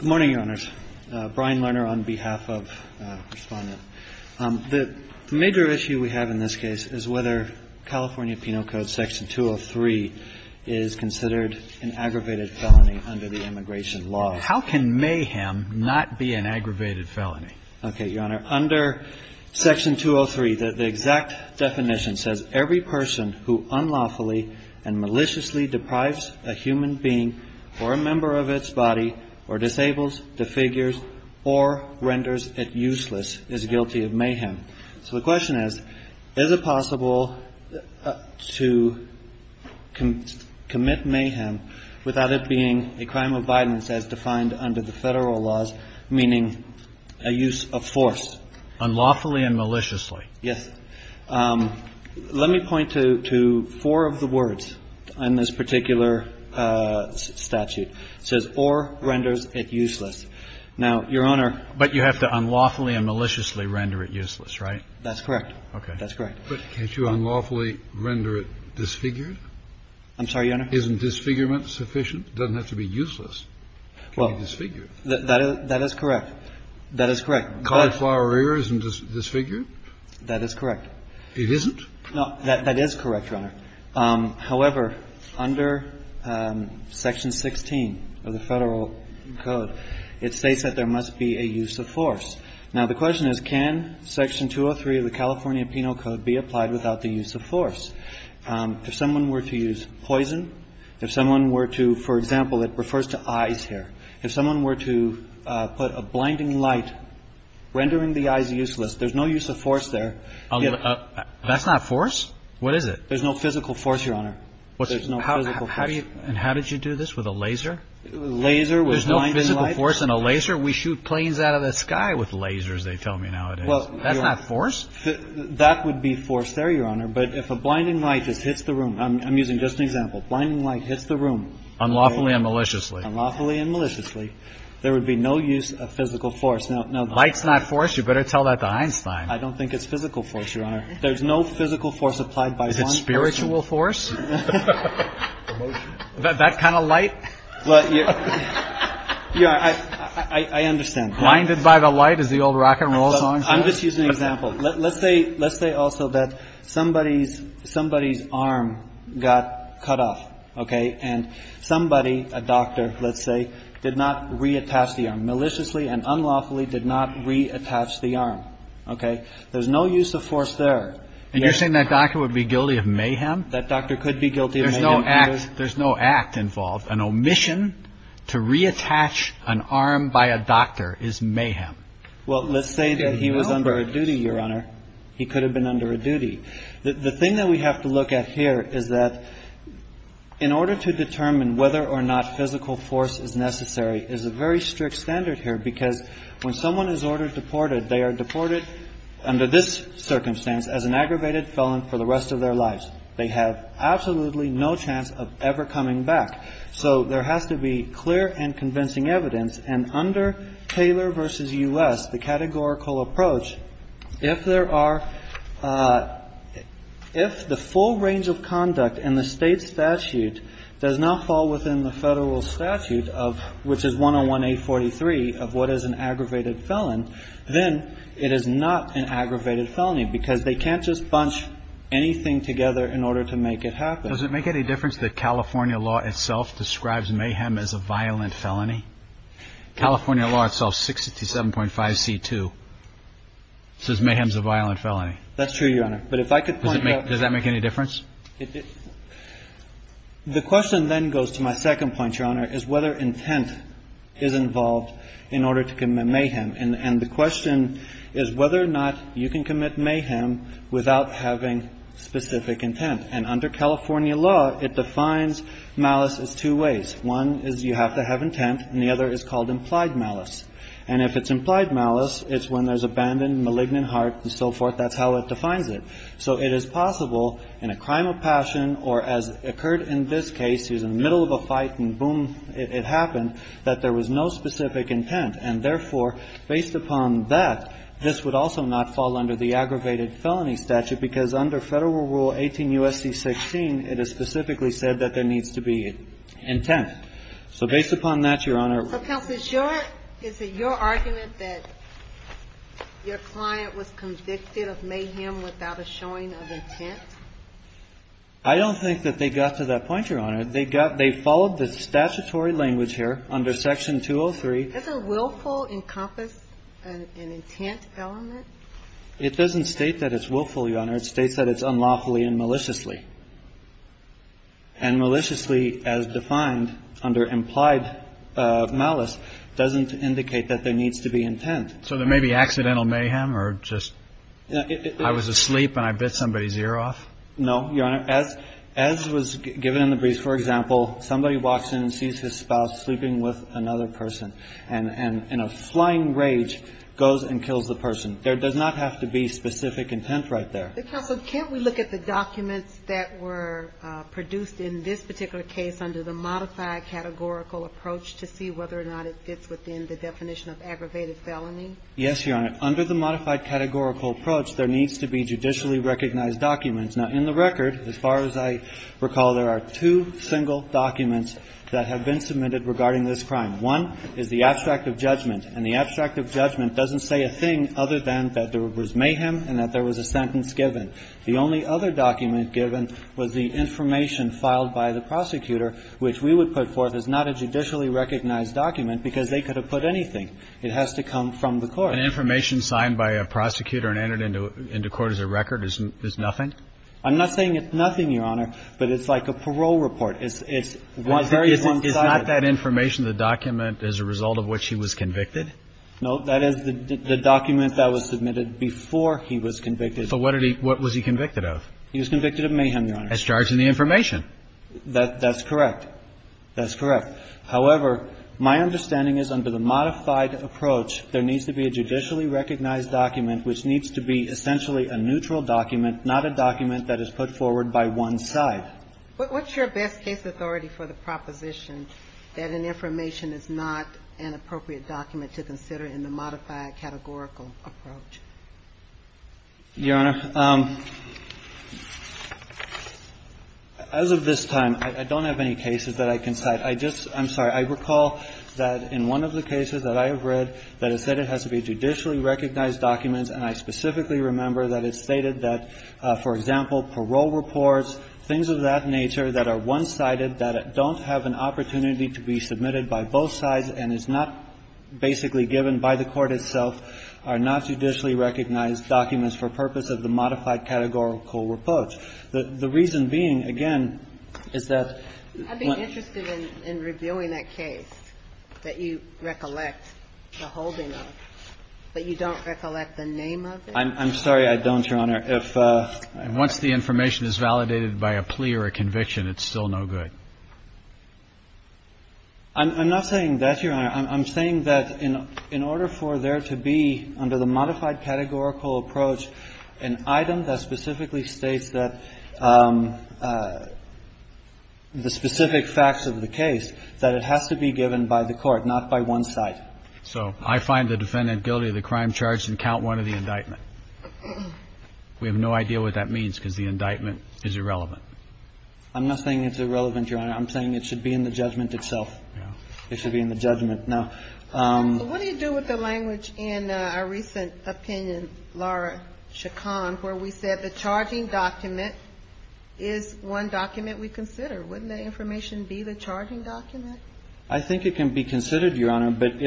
Good morning, Your Honors. Brian Lerner on behalf of Respondent. The major issue we have in this case is whether California Penal Code Section 203 is considered an aggravated felony under the immigration law. How can mayhem not be an aggravated felony? Okay, Your Honor. Under Section 203, the exact definition says every person who unlawfully and maliciously deprives a human being or a member of its body or disables, defigures, or renders it useless is guilty of mayhem. So the question is, is it possible to commit mayhem without it being a crime of violence as defined under the Federal laws, meaning a use of force? Unlawfully and maliciously. Yes. Let me point to four of the words on this particular statute. It says, or renders it useless. Now, Your Honor But you have to unlawfully and maliciously render it useless. Right? That's correct. Okay. That's correct. But can't you unlawfully render it disfigured? I'm sorry, Your Honor. Isn't disfigurement sufficient? Doesn't have to be useless to be disfigured. That is correct. That is correct. Cauliflower rear isn't disfigured? That is correct. It isn't? No. That is correct, Your Honor. However, under Section 16 of the Federal Code, it states that there must be a use of force. Now, the question is, can Section 203 of the California Penal Code be applied without the use of force? If someone were to use poison, if someone were to, for example, it refers to eyes here. If someone were to put a blinding light rendering the eyes useless, there's no use of force there. That's not force? What is it? There's no physical force, Your Honor. There's no physical force. And how did you do this? With a laser? Laser with blinding light? Force in a laser? We shoot planes out of the sky with lasers, they tell me nowadays. That's not force? That would be force there, Your Honor. But if a blinding light just hits the room, I'm using just an example, blinding light hits the room. Unlawfully and maliciously. Unlawfully and maliciously. There would be no use of physical force. Light's not force? You better tell that to Einstein. I don't think it's physical force, Your Honor. There's no physical force applied by one person. Is it spiritual force? That kind of light? But, Your Honor, I understand. Blinded by the light is the old rock and roll song? I'm just using an example. Let's say also that somebody's arm got cut off, OK? And somebody, a doctor, let's say, did not reattach the arm. Maliciously and unlawfully did not reattach the arm, OK? There's no use of force there. And you're saying that doctor would be guilty of mayhem? That doctor could be guilty of mayhem. There's no act involved. An omission to reattach an arm by a doctor is mayhem. Well, let's say that he was under a duty, Your Honor. He could have been under a duty. The thing that we have to look at here is that in order to determine whether or not physical force is necessary is a very strict standard here. Because when someone is ordered deported, they are deported under this circumstance as an aggravated felon for the rest of their lives. They have absolutely no chance of ever coming back. So there has to be clear and convincing evidence. And under Taylor versus US, the categorical approach, if the full range of conduct in the state statute does not fall within the federal statute, which is 101-843 of what is an aggravated felon, then it is not an aggravated felony. Because they can't just bunch anything together in order to make it happen. Does it make any difference that California law itself describes mayhem as a violent felony? California law itself, 667.5c2, says mayhem's a violent felony. That's true, Your Honor. But if I could point out. Does that make any difference? The question then goes to my second point, Your Honor, is whether intent is involved in order to commit mayhem. And the question is whether or not you can commit mayhem without having specific intent. And under California law, it defines malice as two ways. One is you have to have intent, and the other is called implied malice. And if it's implied malice, it's when there's abandoned malignant heart and so forth. That's how it defines it. So it is possible in a crime of passion or as occurred in this case, he's in the middle of a fight and boom, it happened, that there was no specific intent. And therefore, based upon that, this would also not fall under the aggravated felony statute because under Federal Rule 18 U.S.C. 16, it is specifically said that there needs to be intent. So based upon that, Your Honor. So counsel, is it your argument that your client was convicted of mayhem without a showing of intent? I don't think that they got to that point, Your Honor. They followed the statutory language here under Section 203. Is a willful encompass an intent element? It doesn't state that it's willful, Your Honor. It states that it's unlawfully and maliciously. And maliciously, as defined under implied malice, doesn't indicate that there needs to be intent. So there may be accidental mayhem or just I was asleep and I bit somebody's ear off? No, Your Honor. As was given in the brief, for example, somebody walks in and sees his spouse sleeping with another person. And in a flying rage, goes and kills the person. There does not have to be specific intent right there. But counsel, can't we look at the documents that were produced in this particular case under the modified categorical approach to see whether or not it fits within the definition of aggravated felony? Yes, Your Honor. Under the modified categorical approach, there needs to be judicially recognized documents. Now in the record, as far as I recall, there are two single documents that have been submitted regarding this crime. One is the abstract of judgment. And the abstract of judgment doesn't say a thing other than that there was mayhem and that there was a sentence given. The only other document given was the information filed by the prosecutor, which we would put forth as not a judicially recognized document because they could have put anything. It has to come from the court. And information signed by a prosecutor and entered into court as a record is nothing? I'm not saying it's nothing, Your Honor, but it's like a parole report. It's one side. Is not that information the document as a result of which he was convicted? No. That is the document that was submitted before he was convicted. But what did he – what was he convicted of? He was convicted of mayhem, Your Honor. As charged in the information. That's correct. That's correct. However, my understanding is under the modified approach, there needs to be a judicially recognized document which needs to be essentially a neutral document, not a document that is put forward by one side. What's your best case authority for the proposition that an information is not an appropriate document to consider in the modified categorical approach? Your Honor, as of this time, I don't have any cases that I can cite. I just – I'm sorry. I recall that in one of the cases that I have read, that it said it has to be judicially recognized documents, and I specifically remember that it stated that, for example, parole reports, things of that nature that are one-sided, that don't have an opportunity to be submitted by both sides and is not basically given by the court itself, are not judicially recognized documents for purpose of the modified categorical approach. The reason being, again, is that – I'd be interested in reviewing that case that you recollect the holding of, but you don't recollect the name of it? I'm sorry, I don't, Your Honor. And once the information is validated by a plea or a conviction, it's still no good. I'm not saying that, Your Honor. I'm saying that in order for there to be, under the modified categorical approach, an item that specifically states that the specific facts of the case, that it has to be given by the court, not by one side. So I find the defendant guilty of the crime charged in count one of the indictment. We have no idea what that means, because the indictment is irrelevant. I'm not saying it's irrelevant, Your Honor. I'm saying it should be in the judgment itself. It should be in the judgment. What do you do with the language in a recent opinion, Laura Chacon, where we said the charging document is one document we consider? Wouldn't that information be the charging document? I think it can be considered, Your Honor. But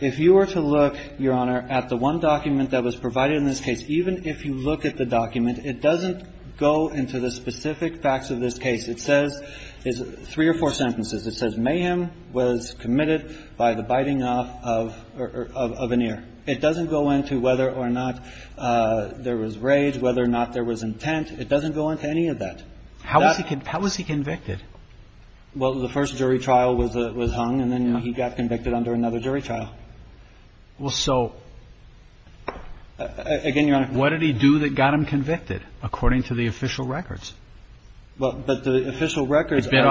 if you were to look, Your Honor, at the one document that was provided in this case, even if you look at the document, it doesn't go into the specific facts of this case. It says three or four sentences. It says mayhem was committed by the biting off of an ear. It doesn't go into whether or not there was rage, whether or not there was intent. It doesn't go into any of that. How was he convicted? Well, the first jury trial was hung, and then he got convicted under another jury trial. Well, so what did he do that got him convicted, according to the official records? But the official records are what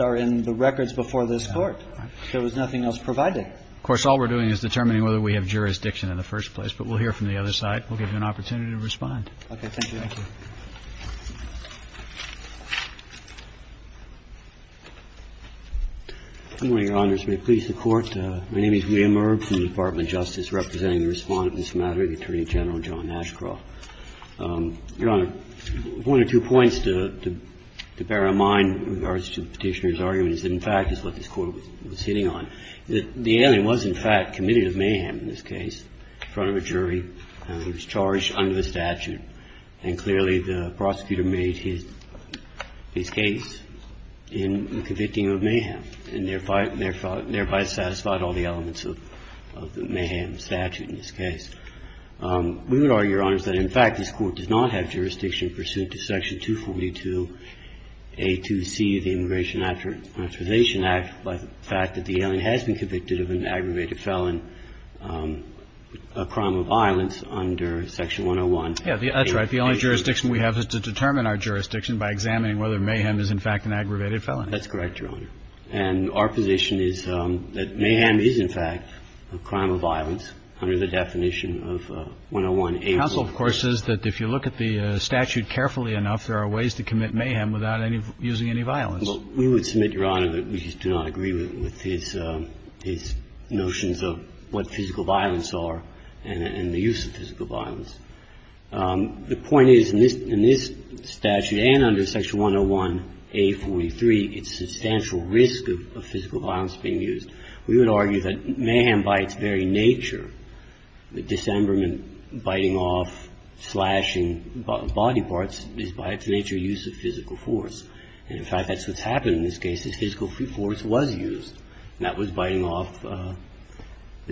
are in the records before this court. There was nothing else provided. Of course, all we're doing is determining whether we have jurisdiction in the first place. But we'll hear from the other side. We'll give you an opportunity to respond. OK, thank you. Thank you. Good morning, Your Honors. May it please the Court. My name is William Irb from the Department of Justice, representing the Respondent in this matter, the Attorney General, John Ashcroft. Your Honor, one or two points to bear in mind with regards to the Petitioner's argument is that in fact is what this Court was hitting on. The alien was, in fact, committed of mayhem in this case in front of a jury. He was charged under the statute, and clearly the prosecutor made his case. In fact, this Court did not have jurisdiction pursuant to Section 242A2C of the Immigration Authorization Act by the fact that the alien has been convicted of an aggravated felon, a crime of violence, under Section 101A2C. Yes, that's right. The only jurisdiction we have is to determine our jurisdiction by examining That's correct, Your Honor. And our position is that mayhem is, in fact, a crime of violence under the definition of 101A2C. Counsel, of course, says that if you look at the statute carefully enough, there are ways to commit mayhem without using any violence. Well, we would submit, Your Honor, that we do not agree with his notions of what physical violence are and the use of physical violence. The point is, in this statute and under Section 101A43, it's a substantial risk of physical violence being used. We would argue that mayhem by its very nature, the disemberman biting off, slashing body parts, is by its nature a use of physical force. And, in fact, that's what's happened in this case, is physical force was used. That was biting off the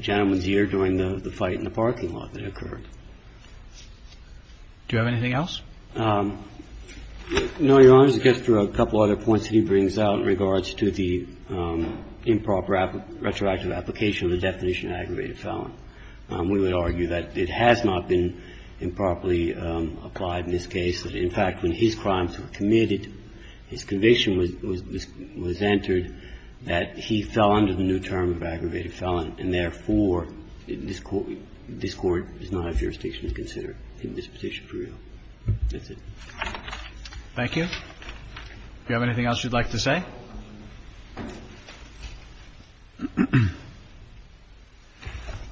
gentleman's ear during the fight in the parking lot that occurred. Do you have anything else? No, Your Honor. I guess there are a couple of other points that he brings out in regards to the improper retroactive application of the definition of aggravated felon. We would argue that it has not been improperly applied in this case, that, in fact, when his crimes were committed, his conviction was entered, that he fell under the new term of aggravated felon. And, therefore, this Court does not have jurisdiction to consider in this position for real. That's it. Thank you. Do you have anything else you'd like to say?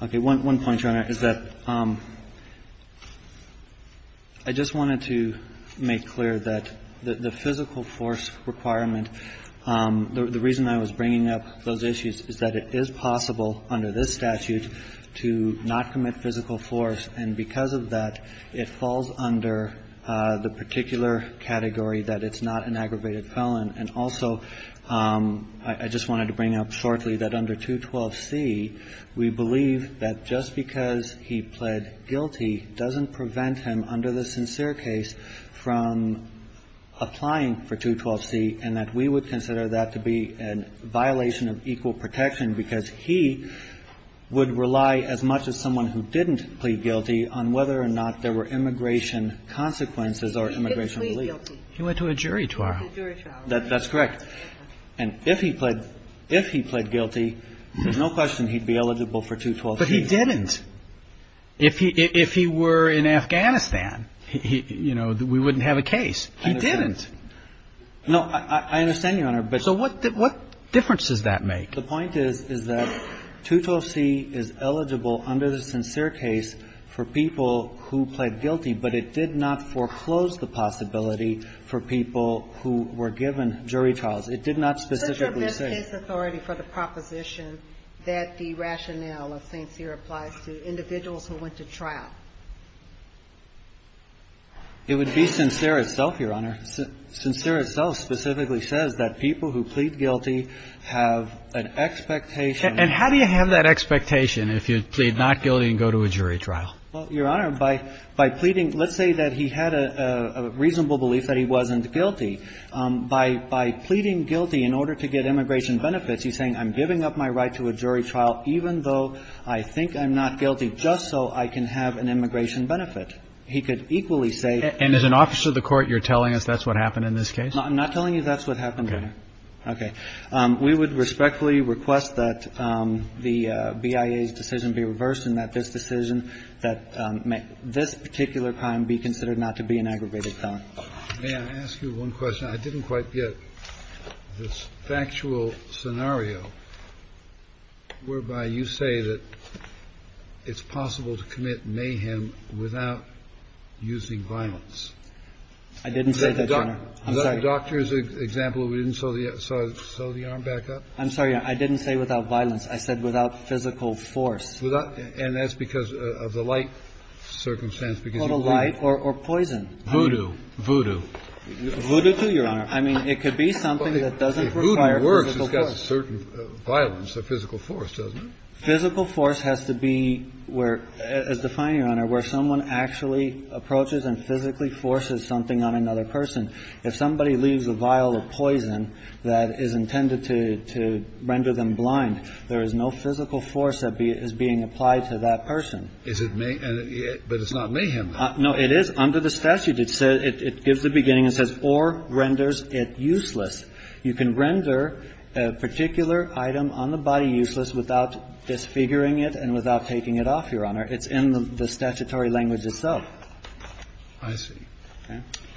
Okay. One point, Your Honor, is that I just wanted to make clear that the physical force requirement, the reason I was bringing up those issues is that it is possible under this statute to not commit physical force, and because of that, it falls under the particular category that it's not an aggravated felon. And also, I just wanted to bring up shortly that under 212c, we believe that just because he pled guilty doesn't prevent him, under the sincere case, from applying for 212c, and that we would consider that to be a violation of equal protection, because he would rely as much as someone who didn't plead guilty on whether or not there were immigration consequences or immigration relief. He went to a jury trial. That's correct. And if he pled guilty, there's no question he'd be eligible for 212c. But he didn't. If he were in Afghanistan, you know, we wouldn't have a case. He didn't. No, I understand you, Your Honor, but so what difference does that make? The point is, is that 212c is eligible under the sincere case for people who pled guilty, but it did not foreclose the possibility for people who were given jury trials. It did not specifically say that the rationale of sincere applies to individuals who went to trial. It would be sincere itself, Your Honor. Sincere itself specifically says that people who plead guilty have an expectation And how do you have that expectation if you plead not guilty and go to a jury trial? Well, Your Honor, by pleading, let's say that he had a reasonable belief that he wasn't guilty. By pleading guilty in order to get immigration benefits, he's saying I'm giving up my right to a jury trial even though I think I'm not guilty just so I can have an immigration benefit. He could equally say And as an officer of the court, you're telling us that's what happened in this case? I'm not telling you that's what happened, Your Honor. Okay. We would respectfully request that the BIA's decision be reversed and that this decision, that this particular crime be considered not to be an aggravated felony. May I ask you one question? I didn't quite get this factual scenario whereby you say that it's possible to commit a crime without physical force, but it's possible to commit a crime without violence. I didn't say that, Your Honor. I'm sorry. Is that the doctor's example where we didn't sew the arm back up? I'm sorry, Your Honor. I didn't say without violence. I said without physical force. Without – and that's because of the light circumstance, because you plead. Total light or poison. Voodoo. Voodoo. Voodoo, too, Your Honor. I mean, it could be something that doesn't require physical force. It physically forces something on another person. If somebody leaves a vial of poison that is intended to render them blind, there is no physical force that is being applied to that person. But it's not mayhem. No, it is. Under the statute, it gives a beginning. It says, or renders it useless. You can render a particular item on the body useless without disfiguring it and without taking it off, Your Honor. It's in the statutory language itself. I see.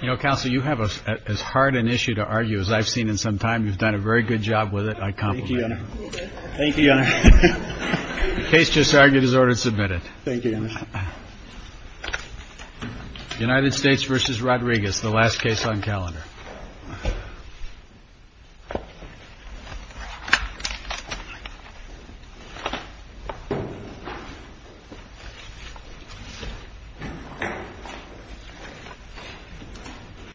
You know, Counsel, you have as hard an issue to argue as I've seen in some time. You've done a very good job with it. I compliment you. Thank you, Your Honor. The case just argued is ordered submitted. Thank you, Your Honor. United States v. Rodriguez, the last case on calendar.